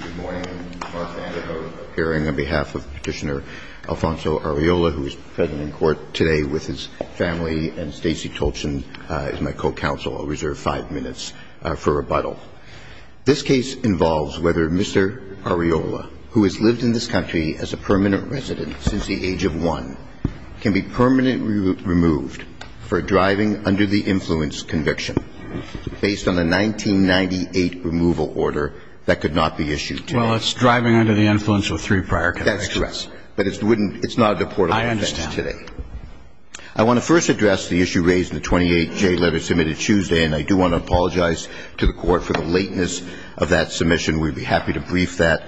Good morning. I'm Mark Vanderhoof, appearing on behalf of Petitioner Alfonso Arreola, who is present in court today with his family, and Stacey Tolchin is my co-counsel. I'll reserve five minutes for rebuttal. This case involves whether Mr. Arreola, who has lived in this country as a permanent resident since the age of one, can be permanently removed for driving under the influence conviction based on a 1998 removal order that could not be issued today. Well, it's driving under the influence with three prior convictions. That's correct. But it's not a deportable offense today. I understand. I want to first address the issue raised in the 28-J letter submitted Tuesday, and I do want to apologize to the Court for the lateness of that submission. We'd be happy to brief that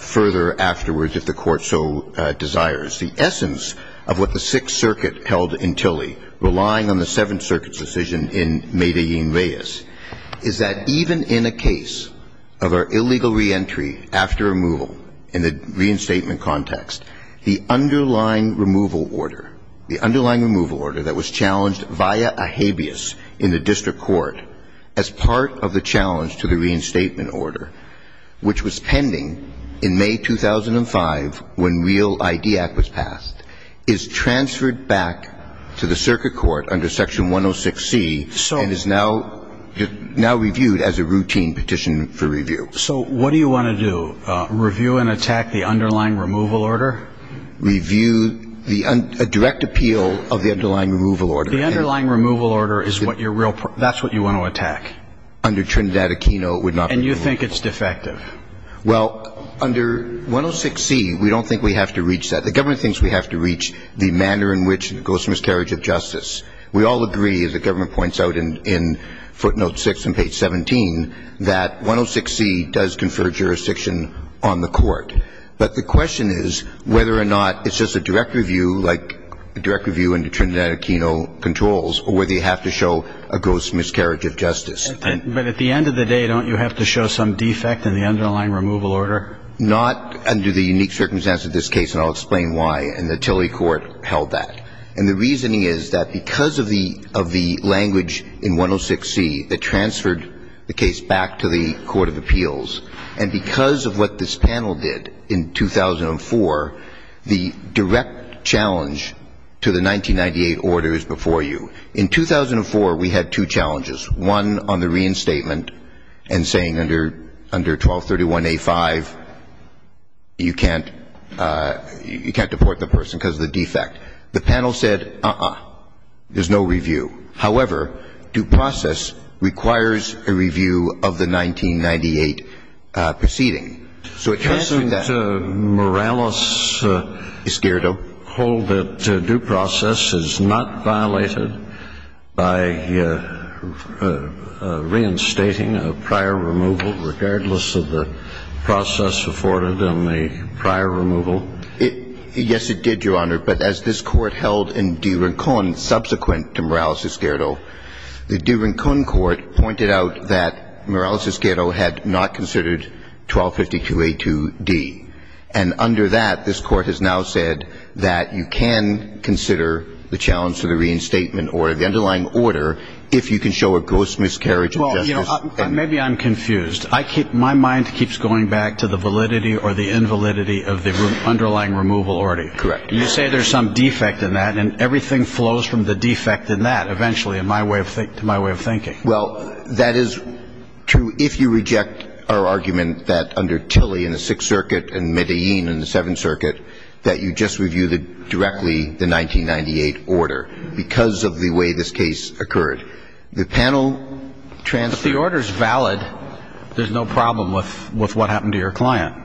further afterwards if the Court so desires. The essence of what the Sixth Circuit held in Tilly, relying on the Seventh Circuit's decision in Medellin-Reyes, is that even in a case of our illegal reentry after removal in the reinstatement context, the underlying removal order, the underlying removal order that was challenged via a habeas in the district court as part of the challenge to the reinstatement order, which was pending in May 2005 when Real ID Act was passed, is transferred back to the circuit court under Section 106C and is now reviewed as a routine petition for review. So what do you want to do, review and attack the underlying removal order? Review the direct appeal of the underlying removal order. The underlying removal order is what you're real – that's what you want to attack. Under Trinidad Aquino, it would not be reviewed. And you think it's defective? Well, under 106C, we don't think we have to reach that. The government thinks we have to reach the manner in which it goes to miscarriage of justice. We all agree, as the government points out in footnote 6 on page 17, that 106C does confer jurisdiction on the court. But the question is whether or not it's just a direct review, like a direct review under Trinidad Aquino controls, or whether you have to show a gross miscarriage of justice. But at the end of the day, don't you have to show some defect in the underlying removal order? Not under the unique circumstance of this case, and I'll explain why. And the Tilly Court held that. And the reasoning is that because of the – of the language in 106C that transferred the case back to the court of appeals, and because of what this panel did in 2004, the direct challenge to the 1998 order is before you. In 2004, we had two challenges, one on the reinstatement and saying under – under 1231A5, you can't – you can't deport the person because of the defect. The panel said, uh-uh, there's no review. However, due process requires a review of the 1998 proceeding. So it can't do that. Can't Morales Esquerdo hold that due process is not violated by reinstating a prior removal, regardless of the process afforded in the prior removal? Yes, it did, Your Honor. But as this Court held in de Rincón, subsequent to Morales Esquerdo, the de Rincón Court pointed out that Morales Esquerdo had not considered 1252A2D. And under that, this Court has now said that you can consider the challenge to the reinstatement order, the underlying order, if you can show a gross miscarriage of justice. Well, you know, maybe I'm confused. I keep – my mind keeps going back to the validity or the invalidity of the underlying removal order. Correct. You say there's some defect in that, and everything flows from the defect in that, eventually, in my way of – to my way of thinking. Well, that is true if you reject our argument that under Tilly in the Sixth Circuit and Medellín in the Seventh Circuit, that you just review the – directly the 1998 order, because of the way this case occurred. The panel transferred – But the order's valid. There's no problem with what happened to your client.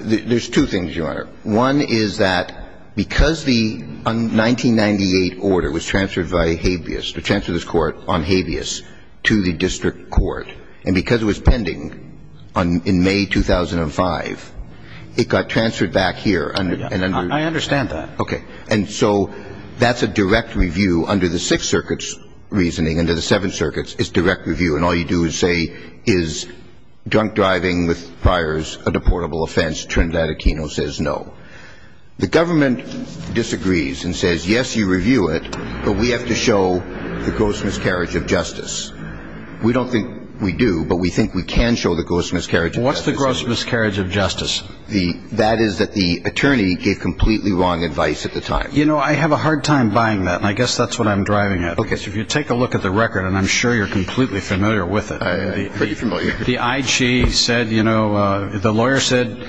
There's two things, Your Honor. One is that because the 1998 order was transferred by habeas – or transferred this Court on habeas to the district court, and because it was pending on – in May 2005, it got transferred back here under – I understand that. Okay. And so that's a direct review under the Sixth Circuit's reasoning. Under the Seventh Circuit's, it's direct review. And all you do is say, is drunk driving with priors a deportable offense? No. The government disagrees and says, yes, you review it, but we have to show the gross miscarriage of justice. We don't think we do, but we think we can show the gross miscarriage of justice. What's the gross miscarriage of justice? That is that the attorney gave completely wrong advice at the time. You know, I have a hard time buying that, and I guess that's what I'm driving at. Okay. If you take a look at the record, and I'm sure you're completely familiar with it. Pretty familiar. The IG said, you know, the lawyer said,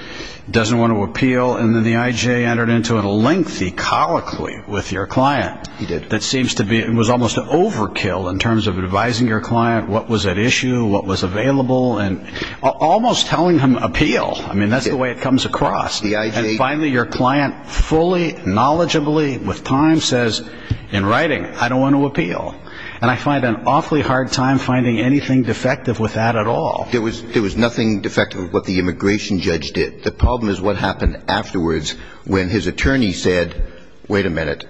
doesn't want to appeal, and then the IG entered into a lengthy colloquy with your client. He did. That seems to be – it was almost an overkill in terms of advising your client what was at issue, what was available, and almost telling him appeal. I mean, that's the way it comes across. And finally, your client fully, knowledgeably, with time, says in writing, I don't want to appeal. And I find an awfully hard time finding anything defective with that at all. There was nothing defective with what the immigration judge did. The problem is what happened afterwards when his attorney said, wait a minute,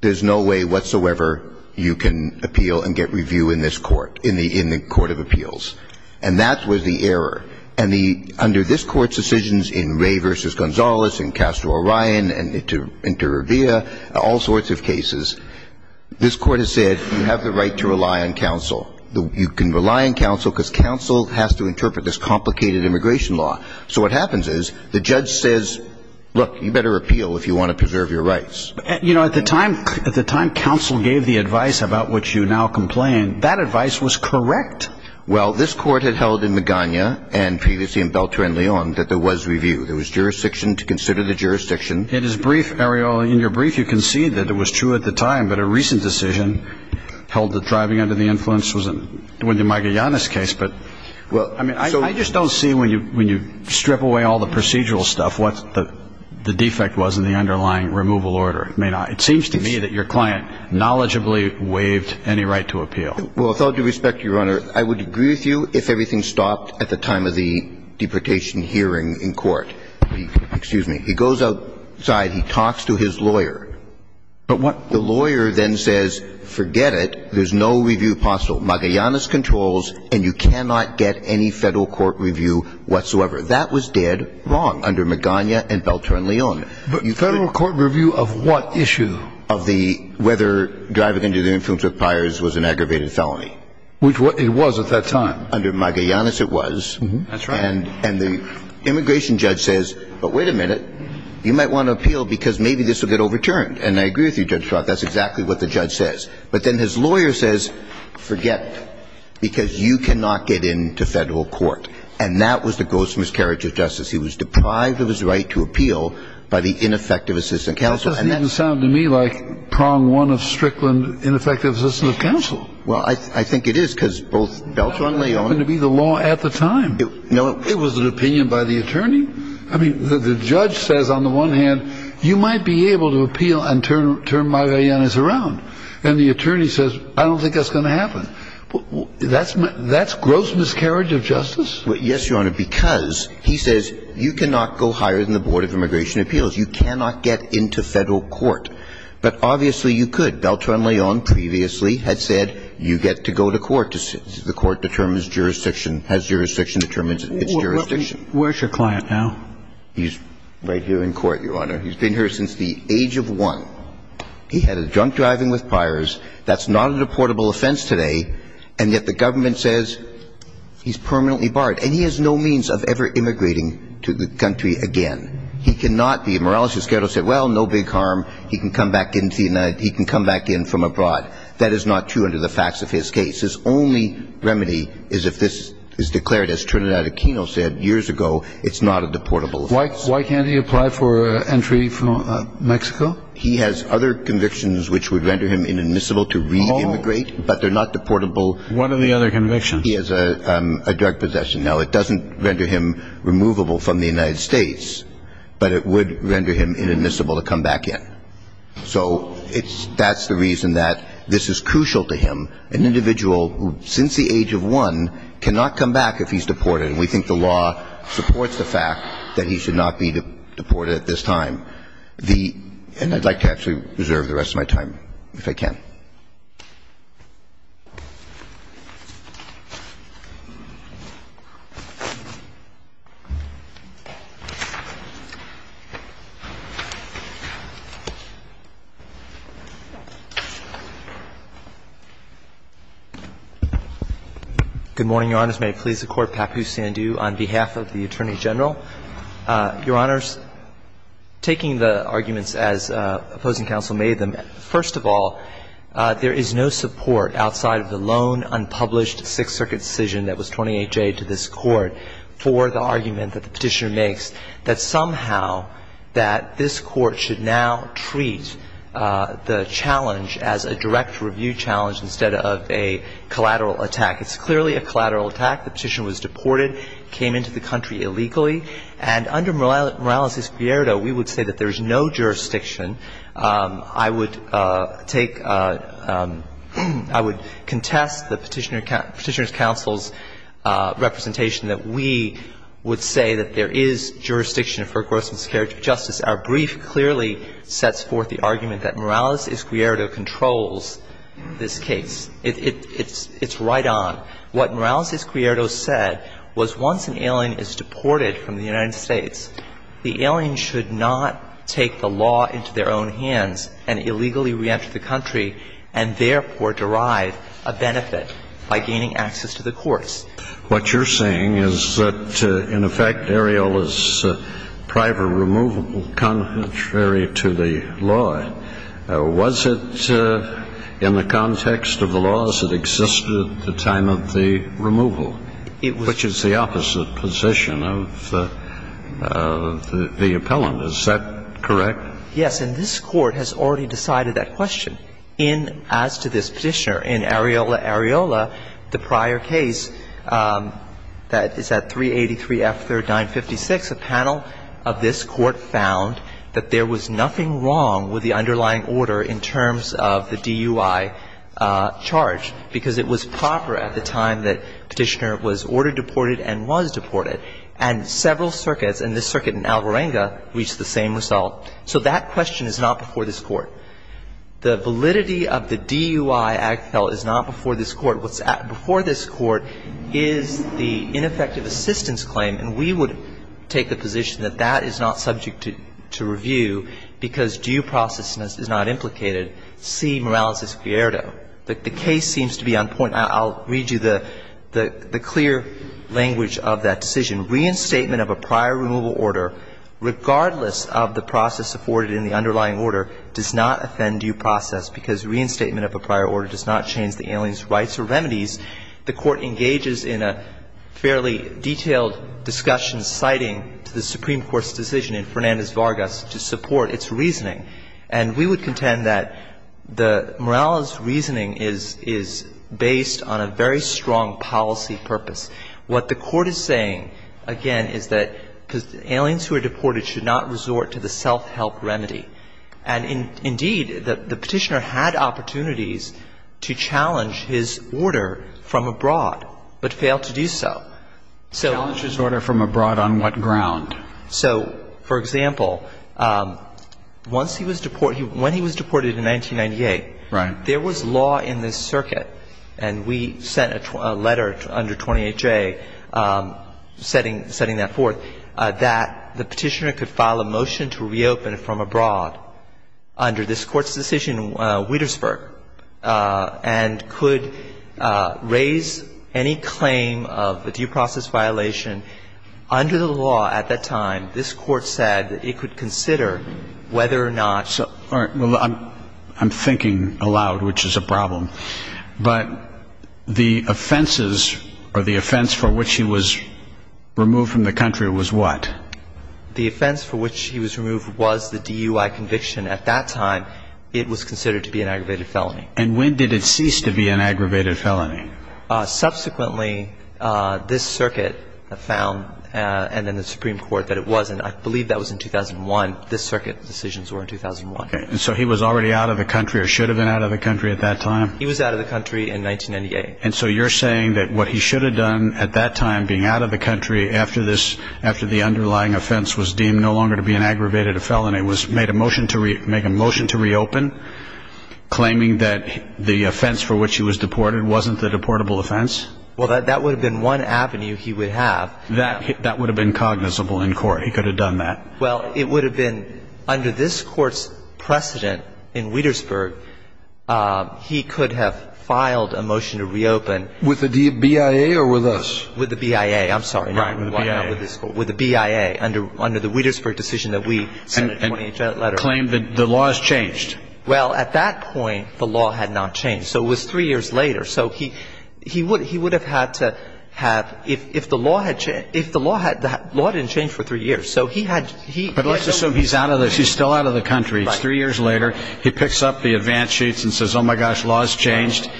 there's no way whatsoever you can appeal and get review in this court, in the court of appeals. And that was the error. And the – under this court's decisions in Ray v. Gonzalez and Castro-Orion and Inter you have the right to rely on counsel. You can rely on counsel because counsel has to interpret this complicated immigration law. So what happens is the judge says, look, you better appeal if you want to preserve your rights. You know, at the time – at the time counsel gave the advice about which you now complain, that advice was correct. Well, this court had held in Magana and previously in Beltran-Leon that there was review. There was jurisdiction to consider the jurisdiction. It is brief, Ariel. Well, in your brief you can see that it was true at the time, but a recent decision held that driving under the influence was in – was in Magana's case. But, I mean, I just don't see when you strip away all the procedural stuff what the defect was in the underlying removal order. It may not – it seems to me that your client knowledgeably waived any right to appeal. Well, with all due respect to you, Your Honor, I would agree with you if everything stopped at the time of the deportation hearing in court. Excuse me. He goes outside. He talks to his lawyer. But what – The lawyer then says, forget it. There's no review possible. Magallanes controls and you cannot get any Federal court review whatsoever. That was dead wrong under Magana and Beltran-Leon. But Federal court review of what issue? Of the – whether driving under the influence of buyers was an aggravated felony. Which it was at that time. Under Magallanes it was. That's right. And the immigration judge says, but wait a minute. You might want to appeal because maybe this will get overturned. And I agree with you, Judge Schwartz. That's exactly what the judge says. But then his lawyer says, forget it, because you cannot get into Federal court. And that was the gross miscarriage of justice. He was deprived of his right to appeal by the ineffective assistant counsel. That doesn't even sound to me like prong one of Strickland, ineffective assistant of counsel. Well, I think it is because both Beltran-Leon – That happened to be the law at the time. It was an opinion by the attorney. I mean, the judge says on the one hand, you might be able to appeal and turn Magallanes around. And the attorney says, I don't think that's going to happen. That's gross miscarriage of justice? Yes, Your Honor, because he says you cannot go higher than the Board of Immigration Appeals. You cannot get into Federal court. But obviously you could. Beltran-Leon previously had said you get to go to court. The court determines jurisdiction, has jurisdiction, determines its jurisdiction. Where's your client now? He's right here in court, Your Honor. He's been here since the age of one. He had a drunk driving with priors. That's not a deportable offense today. And yet the government says he's permanently barred. And he has no means of ever immigrating to the country again. He cannot be immoral. He said, well, no big harm. He can come back in from abroad. That is not true under the facts of his case. His only remedy is if this is declared, as Trinidad Aquino said years ago, it's not a deportable offense. Why can't he apply for entry from Mexico? He has other convictions which would render him inadmissible to re-immigrate, but they're not deportable. What are the other convictions? He has a drug possession. Now, it doesn't render him removable from the United States, but it would render him inadmissible to come back in. So that's the reason that this is crucial to him, an individual who, since the age of one, cannot come back if he's deported. And we think the law supports the fact that he should not be deported at this time. And I'd like to actually reserve the rest of my time, if I can. Thank you. Good morning, Your Honors. May it please the Court, Papu Sandu on behalf of the Attorney General. Your Honors, taking the arguments as opposing counsel made them, first of all, there is no support outside of the lone, unpublished Sixth Circuit decision that was 28A to this Court for the argument that the Petitioner makes that somehow that this Court should now treat the challenge as a direct review challenge instead of a collateral attack. It's clearly a collateral attack. The Petitioner was deported. He came into the country illegally. And under Morales-Izquierdo, we would say that there is no jurisdiction. I would take – I would contest the Petitioner's counsel's representation that we would say that there is jurisdiction for gross miscarriage of justice. Our brief clearly sets forth the argument that Morales-Izquierdo controls this case. It's right on. What Morales-Izquierdo said was once an alien is deported from the United States, the alien should not take the law into their own hands and illegally reenter the country and therefore derive a benefit by gaining access to the courts. What you're saying is that, in effect, Ariel is priva-removable contrary to the law. But was it in the context of the laws that existed at the time of the removal, which is the opposite position of the appellant? Is that correct? Yes. And this Court has already decided that question. In – as to this Petitioner, in Areola, Areola, the prior case that is at 383 F. 3956, a panel of this Court found that there was nothing wrong with the underlying order in terms of the DUI charge, because it was proper at the time that Petitioner was ordered deported and was deported. And several circuits, and this circuit in Alvarenga, reached the same result. So that question is not before this Court. The validity of the DUI act, though, is not before this Court. What's before this Court is the ineffective assistance claim. And we would take the position that that is not subject to review because due process is not implicated, see Morales' Fierdo. The case seems to be on point. I'll read you the clear language of that decision. Reinstatement of a prior removal order, regardless of the process afforded in the underlying order, does not offend due process because reinstatement of a prior order does not change the alien's rights or remedies. The Court engages in a fairly detailed discussion citing the Supreme Court's decision in Fernandez-Vargas to support its reasoning. And we would contend that Morales' reasoning is based on a very strong policy purpose. What the Court is saying, again, is that aliens who are deported should not resort to the self-help remedy. And indeed, the Petitioner had opportunities to challenge his order from abroad, but failed to do so. So. Challenge his order from abroad on what ground? So, for example, once he was deported, when he was deported in 1998. Right. There was law in this circuit, and we sent a letter under 28J setting that forth, that the Petitioner could file a motion to reopen it from abroad under this Court's decision in Wietersburg, and could raise any claim of a due process violation under the law at that time. This Court said that it could consider whether or not. All right. But the offenses, or the offense for which he was removed from the country was what? The offense for which he was removed was the DUI conviction. At that time, it was considered to be an aggravated felony. And when did it cease to be an aggravated felony? Subsequently, this circuit found, and then the Supreme Court, that it wasn't. I believe that was in 2001. This circuit's decisions were in 2001. And so he was already out of the country, or should have been out of the country at that time? He was out of the country in 1998. And so you're saying that what he should have done at that time, being out of the country, after the underlying offense was deemed no longer to be an aggravated felony, was make a motion to reopen, claiming that the offense for which he was deported wasn't the deportable offense? Well, that would have been one avenue he would have. That would have been cognizable in court. He could have done that. Well, it would have been under this Court's precedent in Wietersburg, he could have filed a motion to reopen. With the BIA or with us? With the BIA. I'm sorry. Right, with the BIA. With the BIA, under the Wietersburg decision that we sent a 20-page letter. And claimed that the law has changed. Well, at that point, the law had not changed. So it was three years later. So he would have had to have, if the law had changed, if the law had, the law didn't change for three years. But let's assume he's still out of the country. It's three years later. He picks up the advance sheets and says, oh, my gosh, law's changed.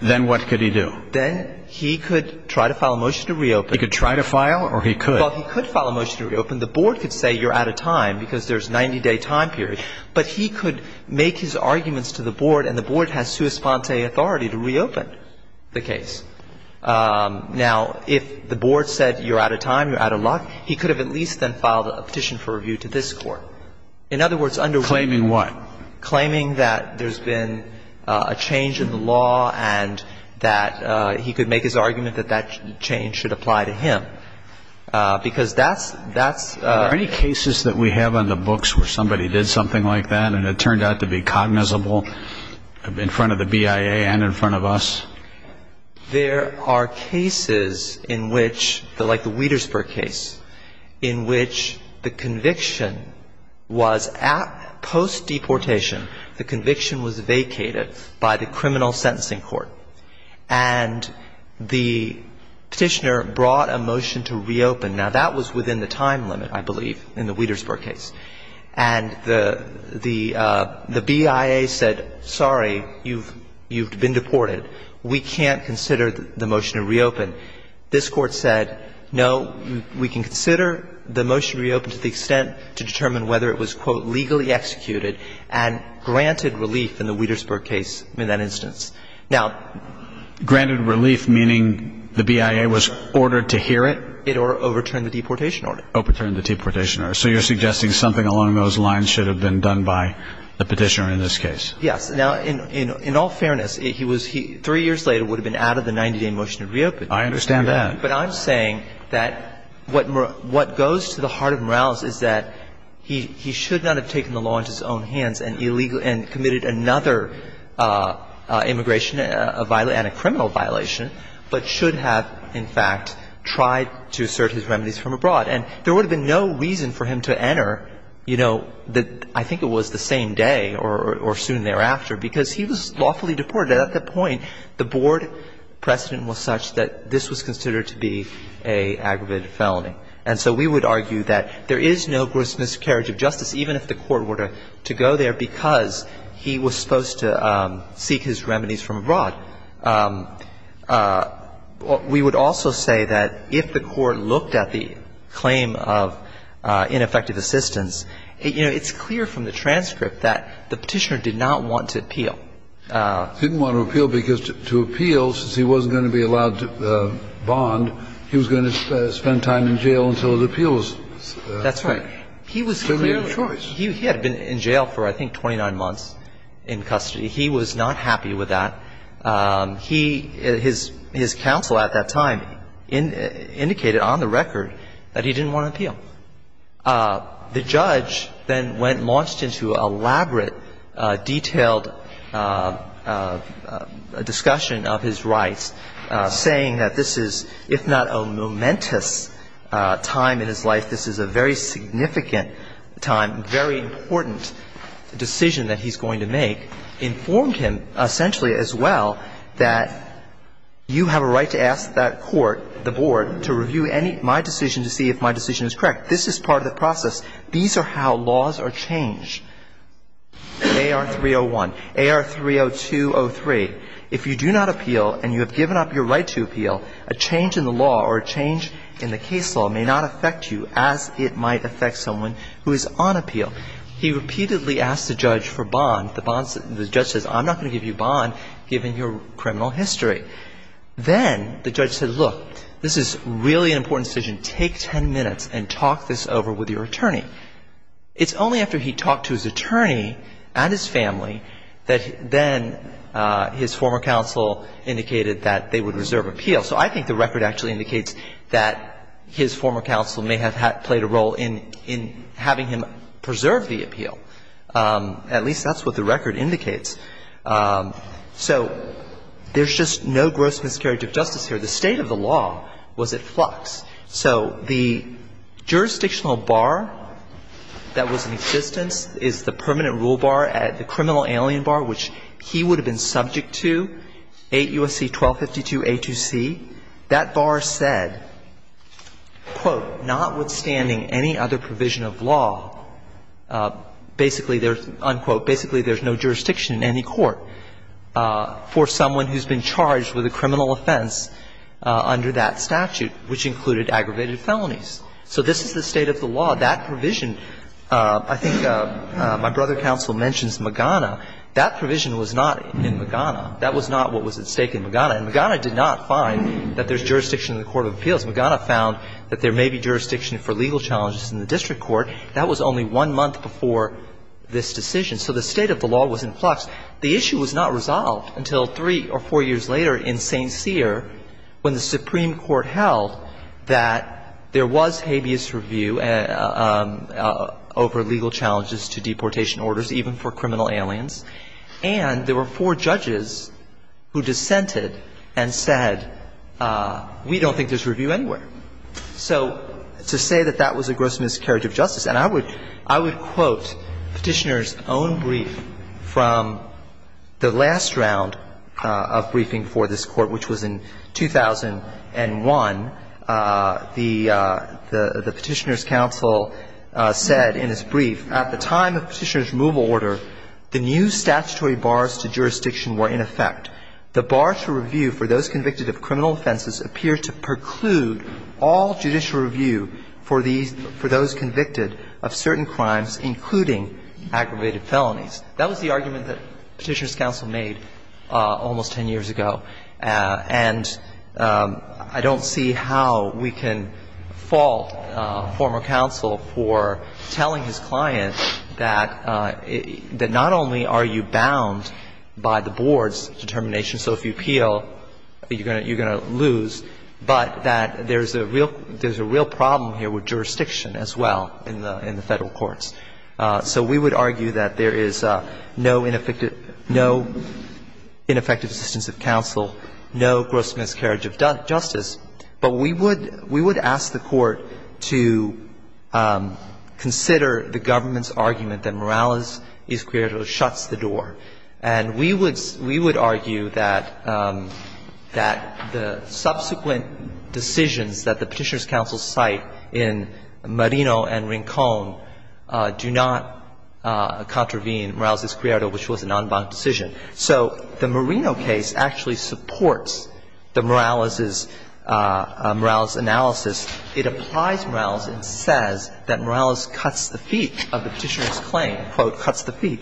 Then what could he do? Then he could try to file a motion to reopen. He could try to file or he could? Well, he could file a motion to reopen. The Board could say you're out of time because there's a 90-day time period. But he could make his arguments to the Board, and the Board has sua sponte authority to reopen the case. Now, if the Board said you're out of time, you're out of luck, he could have at least then filed a petition for review to this Court. In other words, under Wietersburg. Claiming what? Claiming that there's been a change in the law and that he could make his argument that that change should apply to him. Because that's, that's. Are there any cases that we have on the books where somebody did something like that and it turned out to be cognizable in front of the BIA and in front of us? There are cases in which, like the Wietersburg case, in which the conviction was at post-deportation. The conviction was vacated by the criminal sentencing court. And the petitioner brought a motion to reopen. Now, that was within the time limit, I believe, in the Wietersburg case. And the BIA said, sorry, you've been deported. We can't consider the motion to reopen. This Court said, no, we can consider the motion to reopen to the extent to determine whether it was, quote, legally executed and granted relief in the Wietersburg case in that instance. Now. Granted relief, meaning the BIA was ordered to hear it? It overturned the deportation order. Overturned the deportation order. So you're suggesting something along those lines should have been done by the petitioner in this case? Yes. Now, in all fairness, he was – three years later would have been out of the 90-day motion to reopen. I understand that. But I'm saying that what goes to the heart of Morales is that he should not have taken the law into his own hands and illegally – and committed another immigration – and a criminal violation, but should have, in fact, tried to assert his remedies from abroad. And there would have been no reason for him to enter, you know, I think it was the same day or soon thereafter, because he was lawfully deported. At that point, the Board precedent was such that this was considered to be an aggravated felony. And so we would argue that there is no grisly miscarriage of justice, even if the Court were to go there because he was supposed to seek his remedies from abroad. Now, we would also say that if the Court looked at the claim of ineffective assistance, you know, it's clear from the transcript that the petitioner did not want to appeal. He didn't want to appeal because to appeal, since he wasn't going to be allowed to bond, he was going to spend time in jail until his appeal was – That's right. He was clearly – He had been in jail for, I think, 29 months in custody. He was not happy with that. He – his counsel at that time indicated on the record that he didn't want to appeal. The judge then went – launched into elaborate, detailed discussion of his rights, saying that this is, if not a momentous time in his life, this is a very significant time, very important decision that he's going to make, informed him essentially as well that you have a right to ask that court, the board, to review any – my decision to see if my decision is correct. This is part of the process. These are how laws are changed. AR-301, AR-302-03. If you do not appeal and you have given up your right to appeal, a change in the law or a change in the case law may not affect you as it might affect someone who is on appeal. He repeatedly asked the judge for bond. The bond – the judge says, I'm not going to give you bond given your criminal history. Then the judge said, look, this is really an important decision. Take ten minutes and talk this over with your attorney. It's only after he talked to his attorney and his family that then his former counsel indicated that they would reserve appeal. So I think the record actually indicates that his former counsel may have played a role in having him preserve the appeal. At least that's what the record indicates. So there's just no gross miscarriage of justice here. The state of the law was at flux. So the jurisdictional bar that was in existence is the permanent rule bar, the criminal alien bar, which he would have been subject to, 8 U.S.C. 1252a2c. That bar said, quote, notwithstanding any other provision of law, basically there's – unquote, basically there's no jurisdiction in any court for someone who's been charged with a criminal offense under that statute, which included aggravated felonies. So this is the state of the law. That provision – I think my brother counsel mentions Magana. That provision was not in Magana. That was not what was at stake in Magana. And Magana did not find that there's jurisdiction in the court of appeals. Magana found that there may be jurisdiction for legal challenges in the district court. That was only one month before this decision. So the state of the law was in flux. The issue was not resolved until three or four years later in St. Cyr when the Supreme Court held that there was habeas review over legal challenges to deportation orders, even for criminal aliens. And there were four judges who dissented and said, we don't think there's review anywhere. So to say that that was a gross miscarriage of justice, and I would – I would quote Petitioner's own brief from the last round of briefing for this Court, which was in 2001. The Petitioner's counsel said in his brief, At the time of Petitioner's removal order, the new statutory bars to jurisdiction were in effect. The bar to review for those convicted of criminal offenses appeared to preclude all judicial review for these – for those convicted of certain crimes, including aggravated felonies. That was the argument that Petitioner's counsel made almost ten years ago. And I don't see how we can fault former counsel for telling his client that not only are you bound by the board's determination, so if you appeal, you're going to lose, but that there's a real – there's a real problem here with jurisdiction as well in the Federal courts. So we would argue that there is no ineffective – no ineffective assistance of counsel, no gross miscarriage of justice. But we would – we would ask the Court to consider the government's argument that Morales y Esquerro shuts the door. And we would – we would argue that – that the subsequent decisions that the Petitioner's counsel cite in Marino and Rincón do not contravene Morales y Esquerro, which was a non-bond decision. So the Marino case actually supports the Morales' – Morales' analysis. It applies Morales and says that Morales cuts the feet of the Petitioner's claim, quote, cuts the feet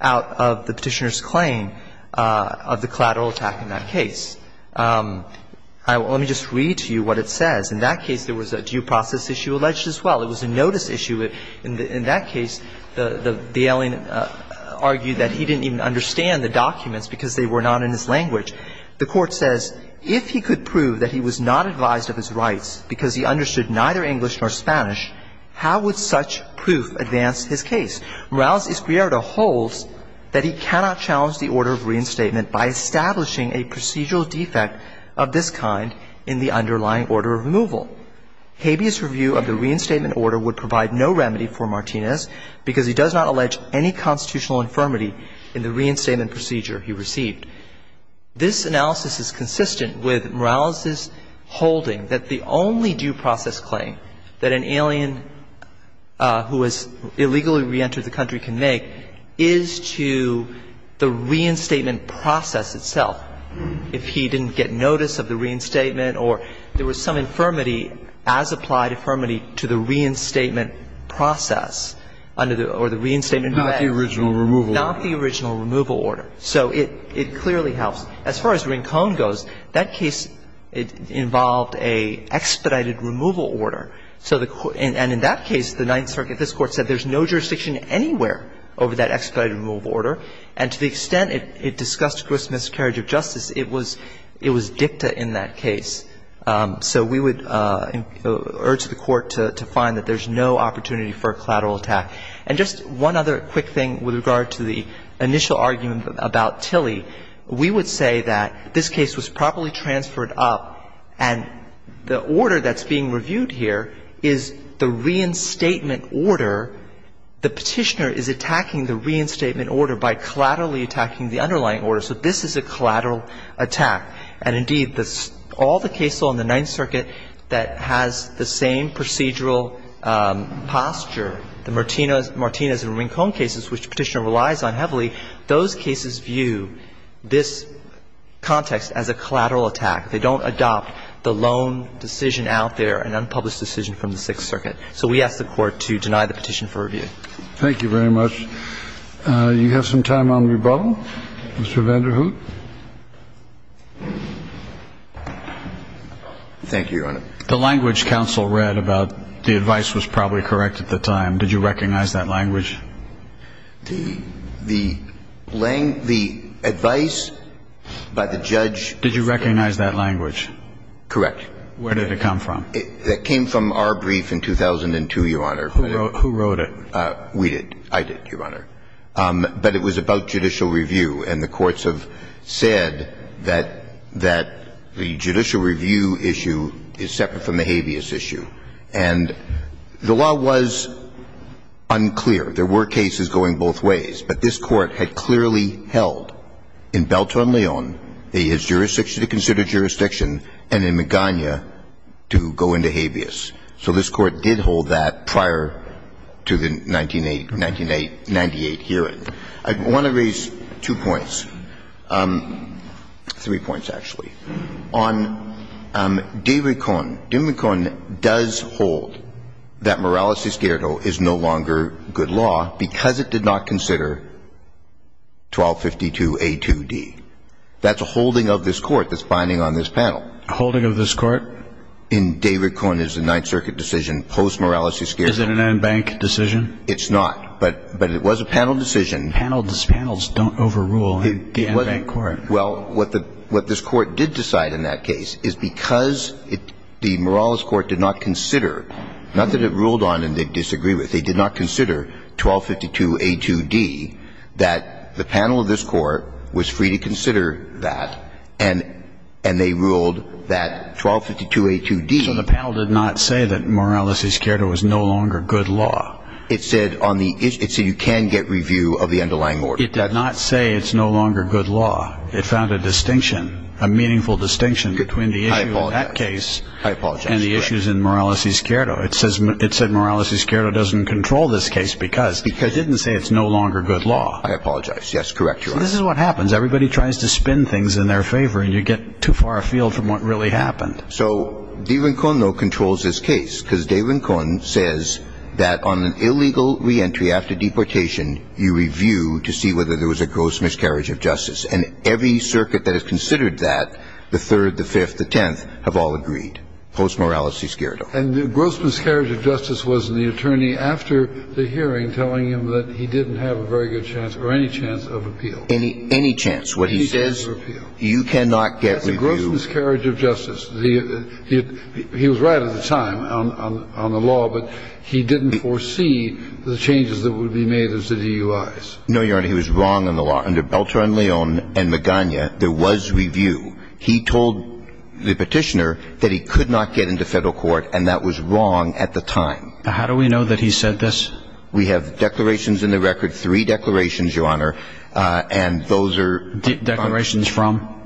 out of the Petitioner's claim of the collateral attack in that case. Let me just read to you what it says. In that case, there was a due process issue alleged as well. It was a notice issue. In that case, the alien argued that he didn't even understand the documents because they were not in his language. The Court says, if he could prove that he was not advised of his rights because he understood neither English nor Spanish, how would such proof advance his case? Morales y Esquerro holds that he cannot challenge the order of reinstatement by establishing a procedural defect of this kind in the underlying order of removal. Habeas review of the reinstatement order would provide no remedy for Martinez because he does not allege any constitutional infirmity in the reinstatement procedure he received. This analysis is consistent with Morales' holding that the only due process claim that an alien who has illegally reentered the country can make is to the reinstatement process itself. If he didn't get notice of the reinstatement or there was some infirmity as applied infirmity to the reinstatement process under the or the reinstatement. Not the original removal order. Not the original removal order. So it clearly helps. As far as Rincon goes, that case involved an expedited removal order. And in that case, the Ninth Circuit, this Court said there's no jurisdiction anywhere over that expedited removal order. And to the extent it discussed gross miscarriage of justice, it was dicta in that case. So we would urge the Court to find that there's no opportunity for a collateral attack. And just one other quick thing with regard to the initial argument about Tilly. We would say that this case was properly transferred up, and the order that's being reviewed here is the reinstatement order. The Petitioner is attacking the reinstatement order by collaterally attacking the underlying order. So this is a collateral attack. And indeed, all the case law in the Ninth Circuit that has the same procedural posture, the Martinez and Rincon cases, which the Petitioner relies on heavily, those cases view this context as a collateral attack. They don't adopt the loan decision out there, an unpublished decision from the Sixth Circuit. So we ask the Court to deny the petition for review. Thank you very much. You have some time on rebuttal. Mr. Vanderhoof. Thank you, Your Honor. The language counsel read about the advice was probably correct at the time. Did you recognize that language? The advice by the judge. Did you recognize that language? Correct. Where did it come from? It came from our brief in 2002, Your Honor. Who wrote it? We did. I did, Your Honor. But it was about judicial review. And the courts have said that the judicial review issue is separate from the habeas issue. And the law was unclear. There were cases going both ways. But this Court had clearly held in Beltone-Leon, it is jurisdiction to consider and in Magana to go into habeas. So this Court did hold that prior to the 1998 hearing. I want to raise two points, three points, actually. On de recon. De recon does hold that morales de esquerdo is no longer good law because it did not consider 1252A2D. That's a holding of this Court that's binding on this panel. A holding of this Court? In de recon is the Ninth Circuit decision, post morales de esquerdo. Is it an en banc decision? It's not. But it was a panel decision. Panels don't overrule the en banc Court. Well, what this Court did decide in that case is because the morales Court did not consider, not that it ruled on and they disagreed with, they did not consider 1252A2D, that the panel of this Court was free to consider that, and they ruled that 1252A2D. So the panel did not say that morales de esquerdo was no longer good law. It said on the issue, it said you can get review of the underlying order. It did not say it's no longer good law. It found a distinction, a meaningful distinction between the issue in that case. I apologize. I apologize. And the issues in morales de esquerdo. It said morales de esquerdo doesn't control this case because it didn't say it's no longer good law. I apologize. Yes, correct, Your Honor. This is what happens. Everybody tries to spin things in their favor, and you get too far afield from what really happened. So de recon, though, controls this case because de recon says that on an illegal reentry after deportation, you review to see whether there was a gross miscarriage of justice. And every circuit that has considered that, the Third, the Fifth, the Tenth, have all agreed, post morales de esquerdo. And the gross miscarriage of justice was in the attorney after the hearing telling him that he didn't have a very good chance or any chance of appeal. Any chance. What he says, you cannot get review. That's a gross miscarriage of justice. He was right at the time on the law, but he didn't foresee the changes that would be made as the DUIs. No, Your Honor. He was wrong on the law. Under Beltran-Leon and Magana, there was review. He told the petitioner that he could not get into federal court, and that was wrong at the time. How do we know that he said this? We have declarations in the record, three declarations, Your Honor, and those are declarations from?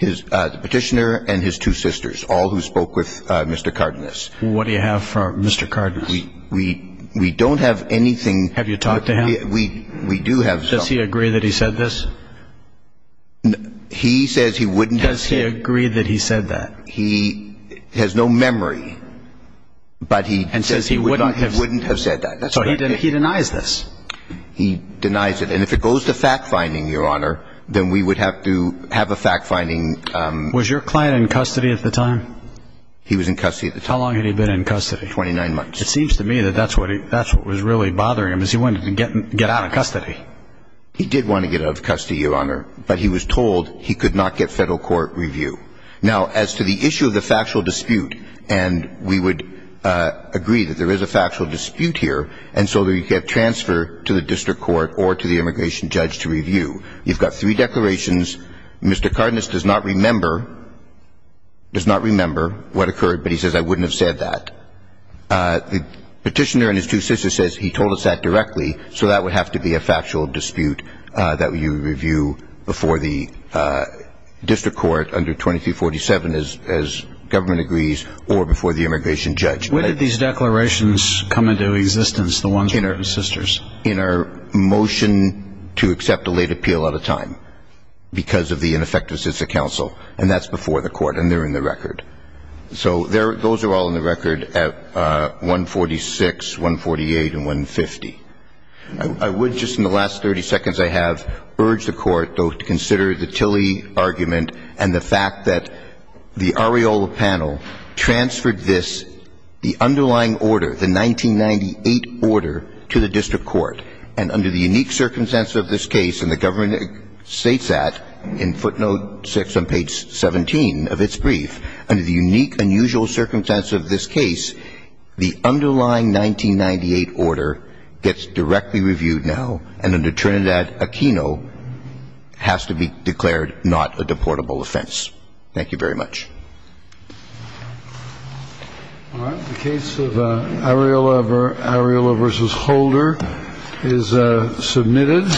The petitioner and his two sisters, all who spoke with Mr. Cardenas. What do you have for Mr. Cardenas? We don't have anything. Have you talked to him? We do have some. Does he agree that he said this? He says he wouldn't have said it. Does he agree that he said that? He has no memory, but he says he wouldn't have said that. So he denies this? He denies it. And if it goes to fact-finding, Your Honor, then we would have to have a fact-finding. Was your client in custody at the time? He was in custody at the time. How long had he been in custody? 29 months. custody. He did want to get out of custody, Your Honor, but he was told he could not get federal court review. Now, as to the issue of the factual dispute, and we would agree that there is a factual dispute here, and so you could have transfer to the district court or to the immigration judge to review. You've got three declarations. Mr. Cardenas does not remember what occurred, but he says, I wouldn't have said that. The petitioner and his two sisters says he told us that directly, so that would have to be a factual dispute that you review before the district court under 2247, as government agrees, or before the immigration judge. When did these declarations come into existence, the ones with the sisters? In our motion to accept a late appeal at a time because of the ineffectiveness of the counsel, and that's before the court, and they're in the record. So those are all in the record at 146, 148, and 150. I would, just in the last 30 seconds I have, urge the court to consider the Tilley argument and the fact that the Areola panel transferred this, the underlying order, the 1998 order, to the district court, and under the unique circumstances of this case, and the government states that in footnote 6 on page 17 of its brief, under the unique, unusual circumstances of this case, the underlying 1998 order gets directly reviewed now, and under Trinidad Aquino has to be declared not a deportable offense. Thank you very much. All right. The case of Areola v. Holder is submitted.